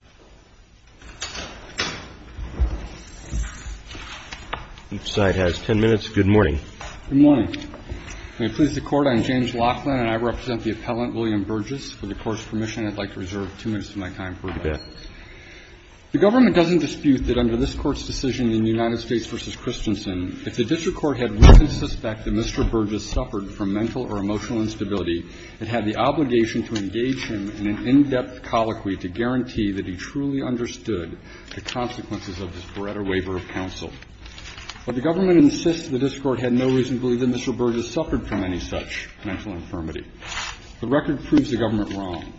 The government does not dispute that under this Court's decision in U.S. v. Christensen, if the District Court had written suspect that Mr. Burgess suffered from mental or emotional instability, it had the obligation to engage him in an in-depth colloquy to guarantee that he truly understood the consequences of this Pareto waiver of counsel. But the government insists the District Court had no reason to believe that Mr. Burgess suffered from any such mental infirmity. The record proves the government wrong.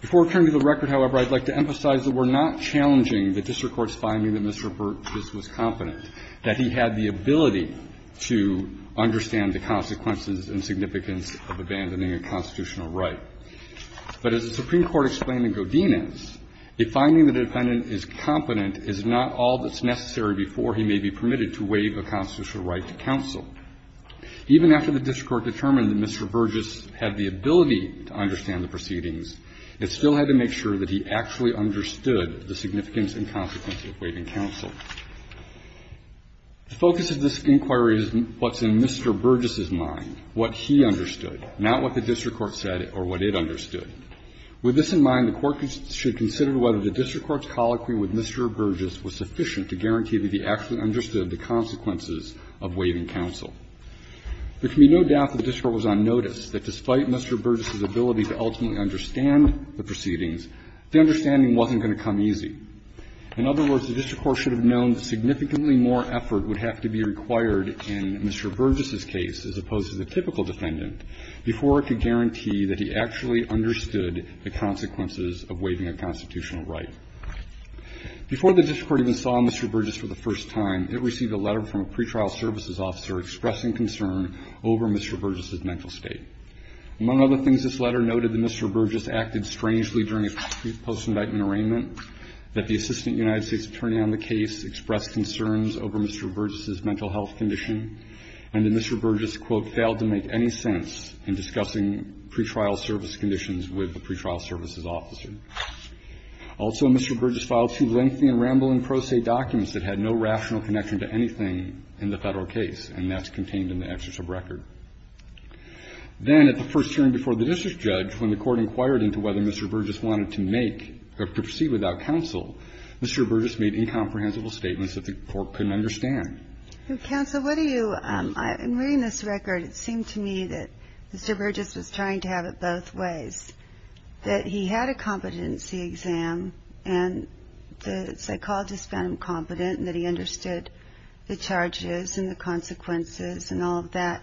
Before returning to the record, however, I'd like to emphasize that we're not challenging the District Court's finding that Mr. Burgess was confident, that he had the ability to understand the consequences and significance of abandoning a constitutional right. But as the Supreme Court explained in Godinez, a finding that a defendant is confident is not all that's necessary before he may be permitted to waive a constitutional right to counsel. Even after the District Court determined that Mr. Burgess had the ability to understand the proceedings, it still had to make sure that he actually understood the significance and consequences of waiving counsel. The focus of this inquiry is what's in Mr. Burgess's mind, what he understood, not what the District Court said or what it understood. With this in mind, the Court should consider whether the District Court's colloquy with Mr. Burgess was sufficient to guarantee that he actually understood the consequences of waiving counsel. There can be no doubt that the District Court was on notice that despite Mr. Burgess's ability to ultimately understand the proceedings, the understanding wasn't going to come easy. In other words, the District Court should have known significantly more effort would have to be required in Mr. Burgess's case as opposed to the typical defendant before it could guarantee that he actually understood the consequences of waiving a constitutional right. Before the District Court even saw Mr. Burgess for the first time, it received a letter from a pretrial services officer expressing concern over Mr. Burgess's mental state. Among other things, this letter noted that Mr. Burgess acted strangely during a post- indictment arraignment, that the assistant United States attorney on the case expressed concerns over Mr. Burgess's mental health condition, and that Mr. Burgess, quote, failed to make any sense in discussing pretrial service conditions with the pretrial services officer. Also, Mr. Burgess filed two lengthy and rambling pro se documents that had no rational connection to anything in the Federal case, and that's contained in the exertion record. Then at the first hearing before the district judge, when the Court inquired into whether Mr. Burgess wanted to make or proceed without counsel, Mr. Burgess made incomprehensible statements that the Court couldn't understand. Counsel, what do you, in reading this record, it seemed to me that Mr. Burgess was trying to have it both ways, that he had a competency exam and the psychologist found him competent and that he understood the charges and the consequences and all of that,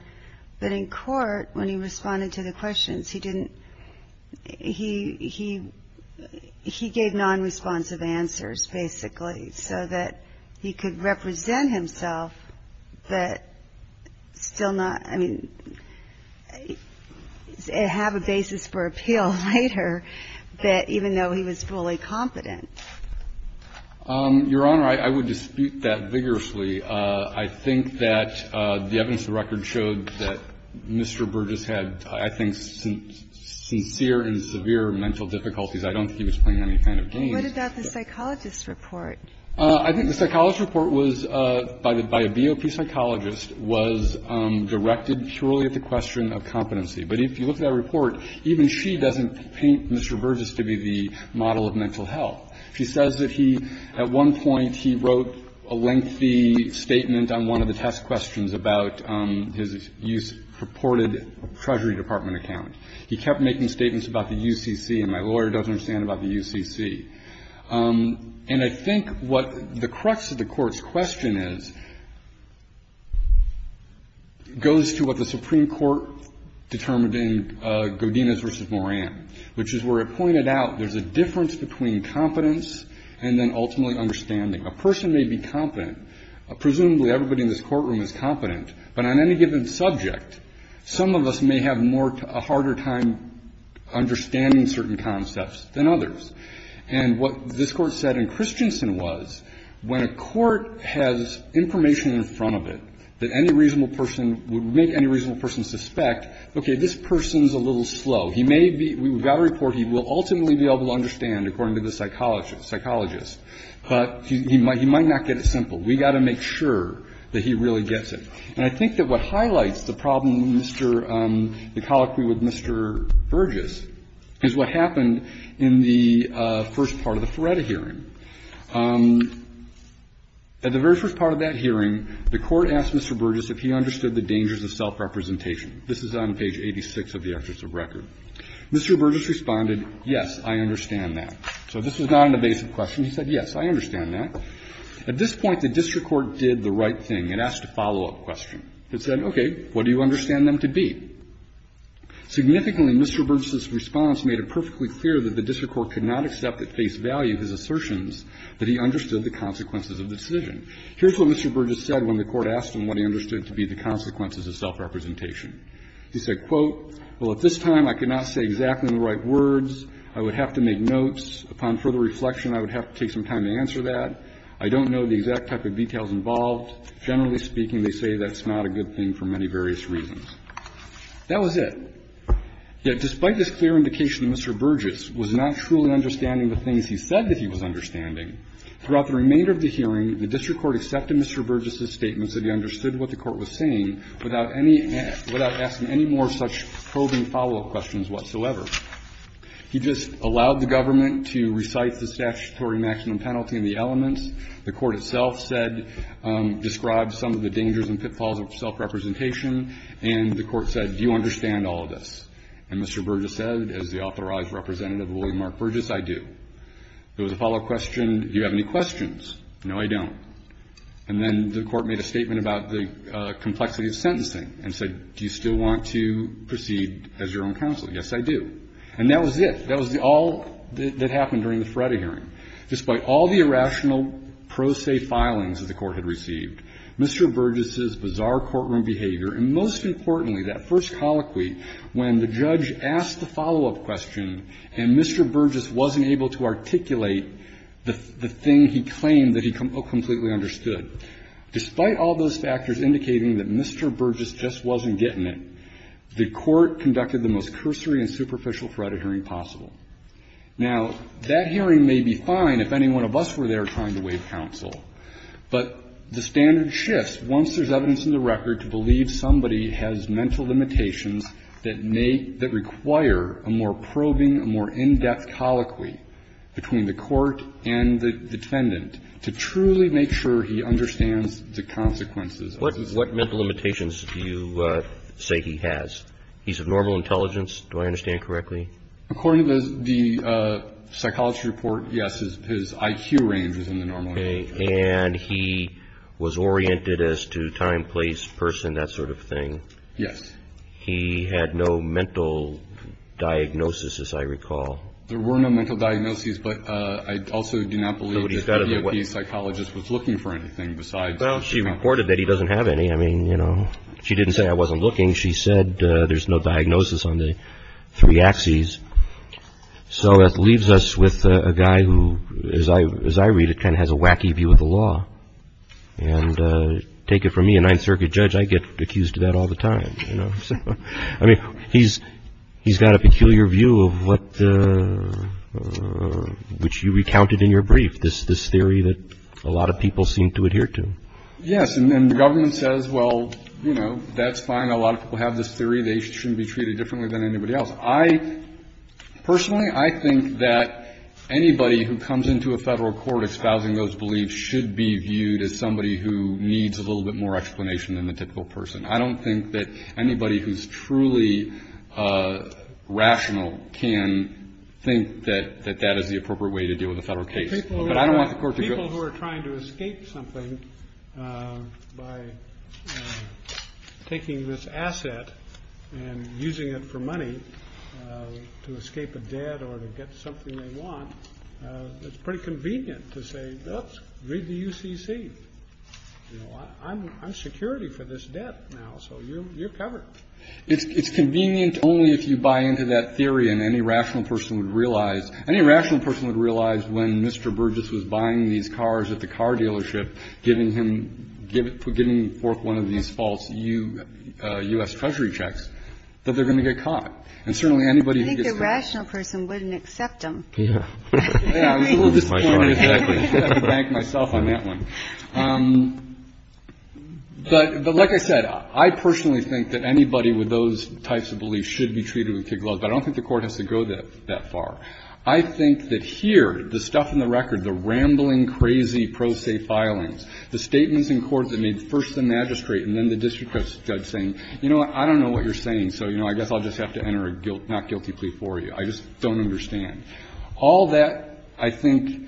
but in court, when he responded to the questions, he didn't, he didn't have a basis for appeal, right, or that even though he was fully competent? Your Honor, I would dispute that vigorously. I think that the evidence of the record showed that Mr. Burgess had, I think, sincere and severe mental difficulties. I don't think he was playing any kind of game. What about the psychologist's report? I think the psychologist's report was, by a BOP psychologist, was directed purely at the question of competency. But if you look at that report, even she doesn't paint Mr. Burgess to be the model of mental health. She says that he, at one point, he wrote a lengthy statement on one of the test questions about his use of purported Treasury Department account. He kept making statements about the UCC, and my lawyer doesn't understand about the UCC. And I think what the crux of the Court's question is, goes to what the Supreme Court determined in Godinez v. Moran, which is where it pointed out there's a difference between competence and then ultimately understanding. A person may be competent, presumably everybody in this courtroom is competent, but on any given subject, some of us may have more, a harder time understanding certain concepts than others. And what this Court said in Christensen was, when a court has information in front of it that any reasonable person would make any reasonable person suspect, okay, this person's a little slow. We've got a report he will ultimately be able to understand, according to the psychologist. But he might not get it simple. We've got to make sure that he really gets it. And I think that what highlights the problem in Mr. — the colloquy with Mr. Burgess is what happened in the first part of the Feretta hearing. At the very first part of that hearing, the Court asked Mr. Burgess if he understood the dangers of self-representation. This is on page 86 of the Excerpts of Record. Mr. Burgess responded, yes, I understand that. So this was not an evasive question. He said, yes, I understand that. At this point, the district court did the right thing. It asked a follow-up question. It said, okay, what do you understand them to be? Significantly, Mr. Burgess's response made it perfectly clear that the district court could not accept at face value his assertions that he understood the consequences of the decision. Here's what Mr. Burgess said when the Court asked him what he understood to be the consequences of self-representation. He said, quote, Well, at this time I could not say exactly the right words. I would have to make notes. Upon further reflection, I would have to take some time to answer that. I don't know the exact type of details involved. Generally speaking, they say that's not a good thing for many various reasons. That was it. Yet despite this clear indication that Mr. Burgess was not truly understanding the things he said that he was understanding, throughout the remainder of the hearing, the district court accepted Mr. Burgess's statements that he understood what the Court was saying without any – without asking any more such probing follow-up questions whatsoever. He just allowed the government to recite the statutory maximum penalty and the elements. The Court itself said – described some of the dangers and pitfalls of self-representation. And the Court said, do you understand all of this? And Mr. Burgess said, as the authorized representative of William R. Burgess, I do. There was a follow-up question, do you have any questions? No, I don't. And then the Court made a statement about the complexity of sentencing and said, do you still want to proceed as your own counsel? Yes, I do. And that was it. That was all that happened during the Feretta hearing. Despite all the irrational pro se filings that the Court had received, Mr. Burgess's bizarre courtroom behavior, and most importantly, that first colloquy when the judge asked the follow-up question and Mr. Burgess wasn't able to articulate the thing he claimed that he completely understood, despite all those factors indicating that Mr. Burgess just wasn't getting it, the Court conducted the most cursory and superficial Feretta hearing possible. Now, that hearing may be fine if any one of us were there trying to waive counsel. But the standard shifts once there's evidence in the record to believe somebody has mental limitations that may – that require a more probing, a more in-depth colloquy between the Court and the defendant to truly make sure he understands the consequences of his actions. What mental limitations do you say he has? He's of normal intelligence, do I understand correctly? According to the psychology report, yes, his IQ range is in the normal range. And he was oriented as to time, place, person, that sort of thing? Yes. He had no mental diagnosis, as I recall. There were no mental diagnoses, but I also do not believe that WP's psychologist was looking for anything besides – Well, she reported that he doesn't have any. I mean, you know, she didn't say I wasn't looking. She said there's no diagnosis on the three axes. So that leaves us with a guy who, as I read, kind of has a wacky view of the law. And take it from me, a Ninth Circuit judge, I get accused of that all the time. I mean, he's got a peculiar view of what – which you recounted in your brief, this theory that a lot of people seem to adhere to. Yes, and then the government says, well, you know, that's fine. A lot of people have this theory. They shouldn't be treated differently than anybody else. I – personally, I think that anybody who comes into a Federal court espousing those beliefs should be viewed as somebody who needs a little bit more explanation than the typical person. I don't think that anybody who's truly rational can think that that is the appropriate way to deal with a Federal case. But I don't want the Court to go – I mean, by taking this asset and using it for money to escape a debt or to get something they want, it's pretty convenient to say, oops, read the UCC. You know, I'm security for this debt now, so you're covered. It's convenient only if you buy into that theory and any rational person would realize – any rational person would realize when Mr. Burgess was buying these cars at the car dealership, giving him – giving forth one of these false U.S. Treasury checks, that they're going to get caught. And certainly, anybody who gets caught – I think the rational person wouldn't accept them. Yeah. I was a little disappointed that I had to bank myself on that one. But like I said, I personally think that anybody with those types of beliefs should be treated with kid gloves. But I don't think the Court has to go that far. I think that here, the stuff in the record, the rambling, crazy pro se filings, the statements in court that made first the magistrate and then the district judge saying, you know what, I don't know what you're saying, so, you know, I guess I'll just have to enter a not guilty plea for you. I just don't understand. All that, I think,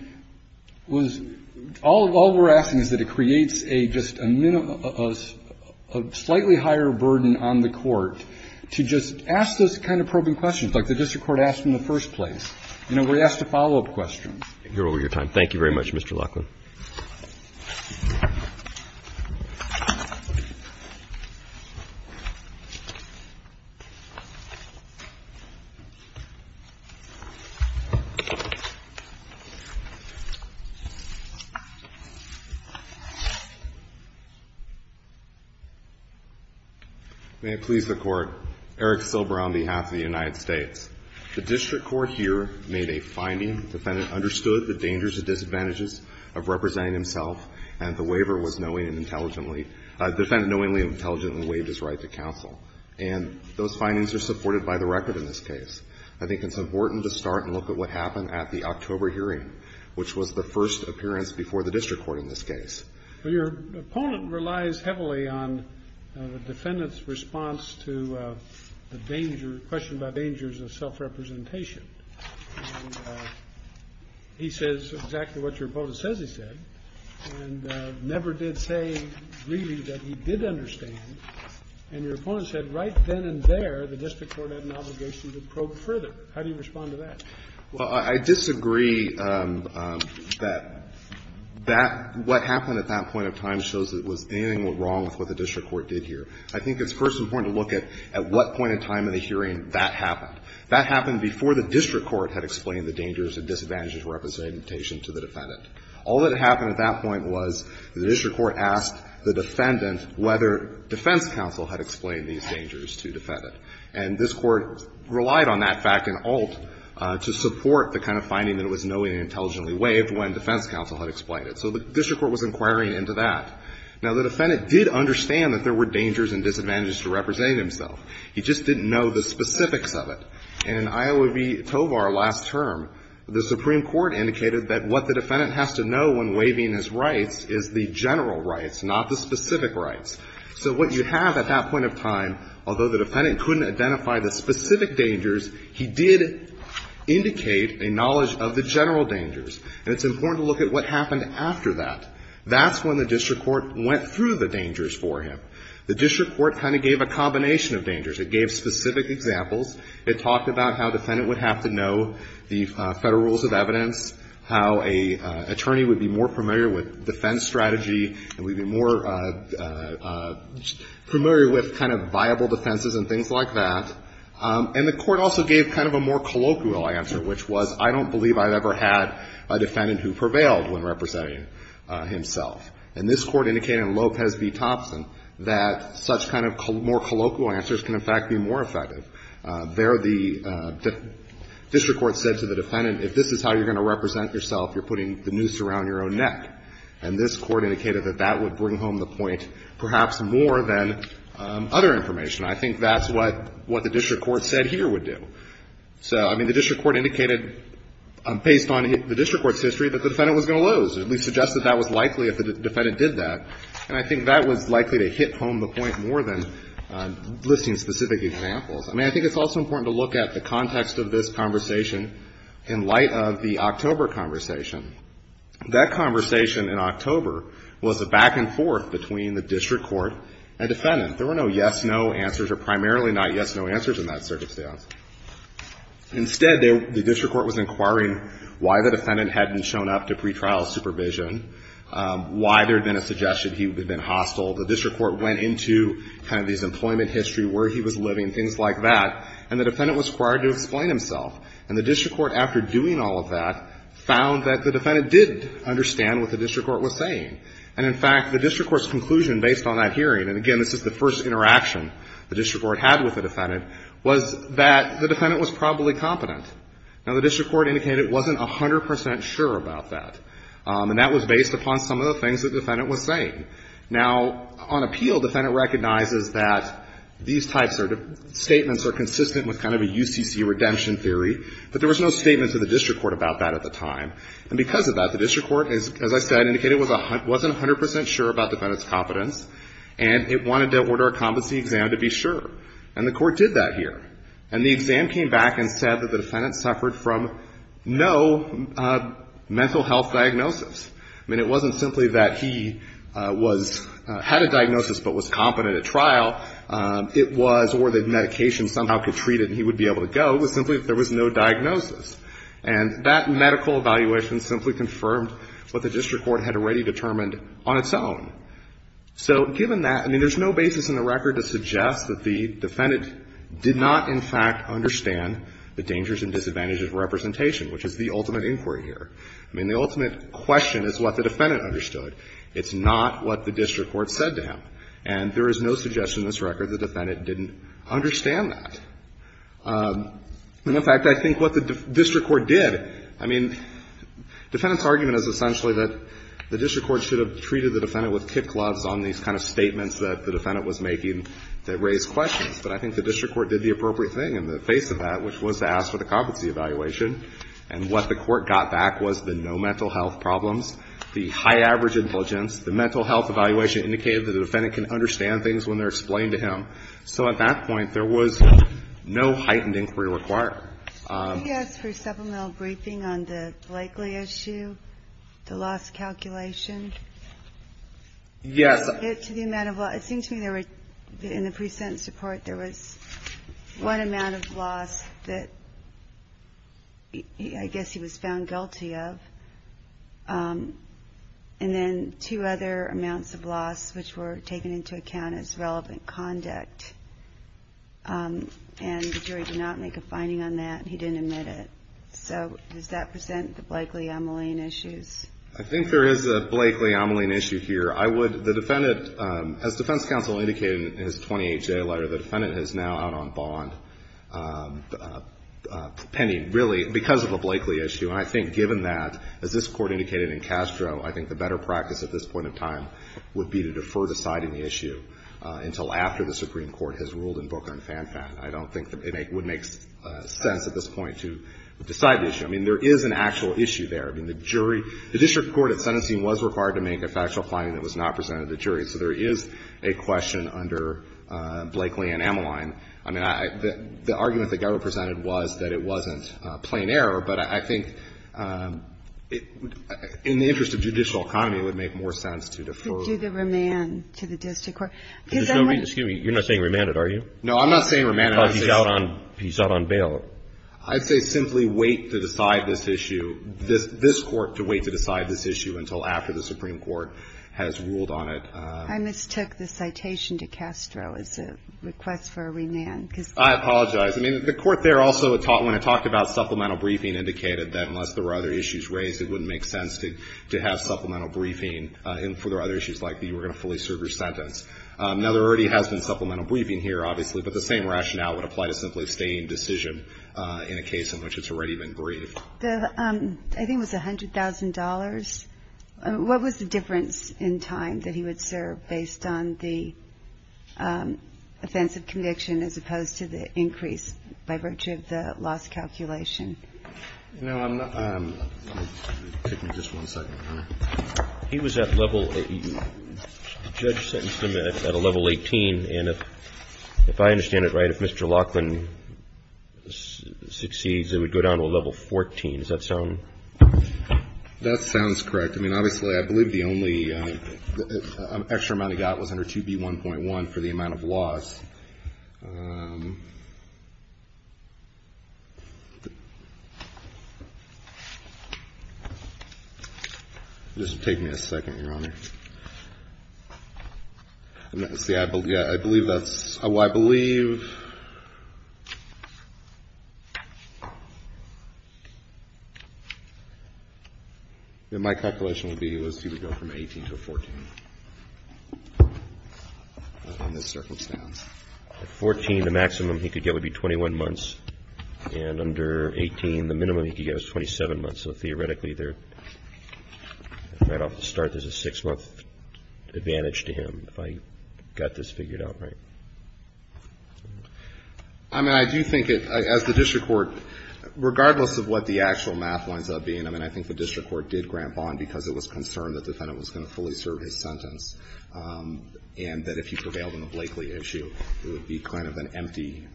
was – all we're asking is that it creates a just a – a slightly higher burden on the Court to just ask those kind of probing questions, like the district court asked in the first place. You know, we're asked to follow up questions. Thank you very much, Mr. Laughlin. May it please the Court. Eric Silber on behalf of the United States. The district court here made a finding. The defendant understood the dangers and disadvantages of representing himself, and the waiver was knowing and intelligently – the defendant knowingly and intelligently waived his right to counsel. And those findings are supported by the record in this case. I think it's important to start and look at what happened at the October hearing, which was the first appearance before the district court in this case. Well, your opponent relies heavily on the defendant's response to the danger – question about dangers of self-representation. And he says exactly what your opponent says he said, and never did say, really, that he did understand. And your opponent said right then and there, the district court had an obligation to probe further. How do you respond to that? Well, I disagree that that – what happened at that point in time shows that there was anything wrong with what the district court did here. I think it's first important to look at what point in time in the hearing that happened. That happened before the district court had explained the dangers and disadvantages of representation to the defendant. All that happened at that point was the district court asked the defendant whether defense counsel had explained these dangers to the defendant. And this court relied on that fact in Alt to support the kind of finding that it was knowing and intelligently waived when defense counsel had explained it. So the district court was inquiring into that. Now, the defendant did understand that there were dangers and disadvantages to representing himself. He just didn't know the specifics of it. In Iowa v. Tovar last term, the Supreme Court indicated that what the defendant has to know when waiving his rights is the general rights, not the specific rights. So what you have at that point of time, although the defendant couldn't identify the specific dangers, he did indicate a knowledge of the general dangers. And it's important to look at what happened after that. That's when the district court went through the dangers for him. The district court kind of gave a combination of dangers. It gave specific examples. It talked about how the defendant would have to know the federal rules of evidence, how an attorney would be more familiar with defense strategy, and would be more familiar with kind of viable defenses and things like that. And the court also gave kind of a more colloquial answer, which was, I don't believe I've ever had a defendant who prevailed when representing himself. And this court indicated in Lopez v. Thompson that such kind of more colloquial answers can, in fact, be more effective. There, the district court said to the defendant, if this is how you're going to represent yourself, you're putting the noose around your own neck. And this court indicated that that would bring home the point perhaps more than other information. I think that's what the district court said here would do. So, I mean, the district court indicated, based on the district court's history, that the defendant was going to lose. It suggested that was likely if the defendant did that. And I think that was likely to hit home the point more than listing specific examples. I mean, I think it's also important to look at the context of this conversation in light of the October conversation. That conversation in October was a back and forth between the district court and defendant. There were no yes, no answers, or primarily not yes, no answers in that circumstance. Instead, the district court was inquiring why the defendant hadn't shown up to pretrial supervision, why there had been a suggestion he had been hostile. The district court went into kind of his employment history, where he was living, things like that. And the defendant was required to explain himself. And the district court, after doing all of that, found that the defendant did understand what the district court was saying. And, in fact, the district court's conclusion based on that hearing, and, again, this is the first interaction the district court had with the defendant, was that the defendant was probably competent. Now, the district court indicated it wasn't 100 percent sure about that. And that was based upon some of the things the defendant was saying. Now, on appeal, the defendant recognizes that these types of statements are consistent with kind of a UCC redemption theory. But there was no statement to the district court about that at the time. And because of that, the district court, as I said, indicated it wasn't 100 percent sure about the defendant's competence. And it wanted to order a competency exam to be sure. And the court did that here. And the exam came back and said that the defendant suffered from no mental health diagnosis. I mean, it wasn't simply that he was — had a diagnosis but was competent at trial. It was — or the medication somehow could treat it and he would be able to go. It was simply that there was no diagnosis. And that medical evaluation simply confirmed what the district court had already determined on its own. So, given that — I mean, there's no basis in the record to suggest that the defendant did not, in fact, understand the dangers and disadvantages of representation, which is the ultimate inquiry here. I mean, the ultimate question is what the defendant understood. It's not what the district court said to him. And there is no suggestion in this record the defendant didn't understand that. And, in fact, I think what the district court did — I mean, defendant's argument is essentially that the district court should have treated the defendant with tip gloves on these kind of statements that the defendant was making that raised questions. But I think the district court did the appropriate thing in the face of that, which was to ask for the competency evaluation. And what the court got back was the no mental health problems, the high average intelligence, the mental health evaluation indicated that the defendant can understand things when they're explained to him. So, at that point, there was no heightened inquiry required. Did he ask for a supplemental briefing on the Blakeley issue, the loss calculation? Yes. To the amount of — it seemed to me there were — in the pre-sentence report, there was one amount of loss that I guess he was found guilty of. And then two other amounts of loss, which were taken into account as relevant conduct. And the jury did not make a finding on that. He didn't admit it. So does that present the Blakeley-Omeline issues? I think there is a Blakeley-Omeline issue here. I would — the defendant — as defense counsel indicated in his 28-J letter, the defendant is now out on bond, pending, really, because of a Blakeley issue. And I think given that, as this court indicated in Castro, I think the better practice at this point of time would be to defer deciding the issue until after the Supreme Court has ruled in Booker and Fanfan. I don't think it would make sense at this point to decide the issue. I mean, there is an actual issue there. I mean, the jury — the district court at sentencing was required to make a factual finding that was not presented to the jury. So there is a question under Blakeley and Omeline. I mean, the argument that got represented was that it wasn't plain error. But I think in the interest of judicial economy, it would make more sense to defer — There's no reason — excuse me, you're not saying remanded, are you? No, I'm not saying remanded. Oh, he's out on bail. I'd say simply wait to decide this issue — this court to wait to decide this issue until after the Supreme Court has ruled on it. I mistook the citation to Castro as a request for a remand, because — I apologize. I mean, the court there also, when it talked about supplemental briefing, indicated that unless there were other issues raised, it wouldn't make sense to have supplemental briefing for other issues like you were going to fully serve your sentence. Now, there already has been supplemental briefing here, obviously, but the same rationale would apply to simply staying decision in a case in which it's already been briefed. The — I think it was $100,000. What was the difference in time that he would serve based on the offensive conviction as opposed to the increase by virtue of the loss calculation? You know, I'm not — take me just one second. He was at level — the judge sentenced him at a level 18, and if I understand it right, if Mr. Laughlin succeeds, it would go down to a level 14. Does that sound — That sounds correct. I mean, obviously, I believe the only extra amount he got was under 2B1.1 for the amount of loss. Just take me a second, Your Honor. See, I believe that's — well, I believe that my calculation would be that he would go from 18 to a 14 in this circumstance. At 14, the maximum he could get would be 21 months, and under 18, the minimum he could get is 27 months. So theoretically, they're — right off the start, there's a six-month advantage to him, if I got this figured out right. I mean, I do think it — as the district court, regardless of what the actual math winds up being, I mean, I think the district court did grant bond because it was concerned the defendant was going to fully serve his sentence, and that if he prevailed on the Blakely issue, it would be kind of an empty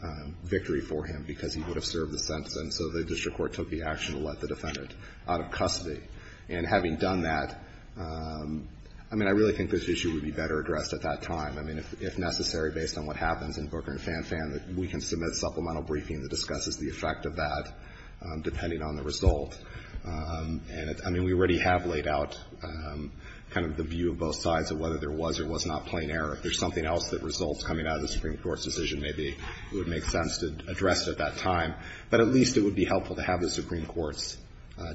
victory for him because he would have served the sentence, and so the district court took the action to let the defendant. And I think that's a good thing. I think the district court did a good job of getting the defendant out of custody. And having done that, I mean, I really think this issue would be better addressed at that time. I mean, if necessary, based on what happens in Booker and Fan Fan, we can submit a supplemental briefing that discusses the effect of that, depending on the result. And I mean, we already have laid out kind of the view of both sides of whether there was or was not plain error. If there's something else that results coming out of the Supreme Court's decision, maybe it would make sense to address it at that time. But at least it would be helpful to have the Supreme Court's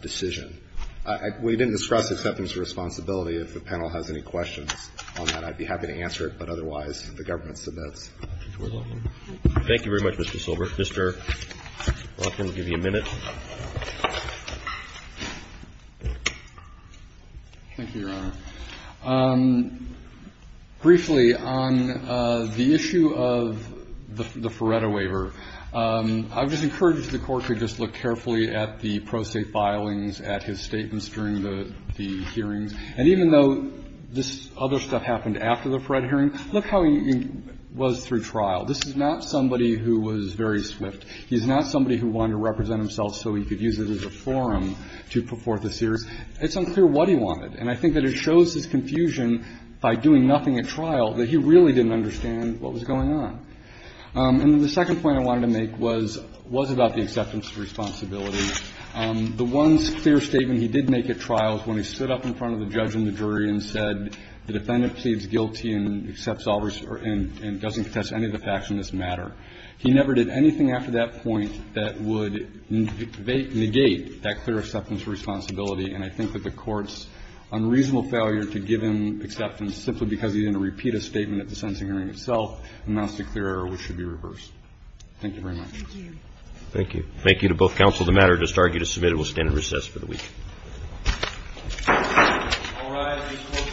decision. We didn't discuss acceptance of responsibility. If the panel has any questions on that, I'd be happy to answer it. But otherwise, the government submits. Thank you very much, Mr. Silver. Mr. Rothman, we'll give you a minute. Thank you, Your Honor. Briefly, on the issue of the Feretta waiver, I would just encourage the Court to just look carefully at the pro se filings, at his statements during the hearings. And even though this other stuff happened after the Feretta hearing, look how he was through trial. This is not somebody who was very swift. He's not somebody who wanted to represent himself so he could use it as a forum to put forth a series. It's unclear what he wanted. And I think that it shows his confusion by doing nothing at trial that he really didn't understand what was going on. And the second point I wanted to make was about the acceptance of responsibility. The one clear statement he did make at trial is when he stood up in front of the judge and the jury and said the defendant pleads guilty and accepts all and doesn't contest any of the facts in this matter. He never did anything after that point that would negate that clear acceptance of responsibility. And I think that the Court's unreasonable failure to give him acceptance simply because he didn't repeat a statement at the sentencing hearing itself amounts to clear error, which should be reversed. Thank you very much. Thank you. Thank you. Thank you to both counsel. The matter just argued is submitted. We'll stand in recess for the week. All rise. The court is in recess for the week.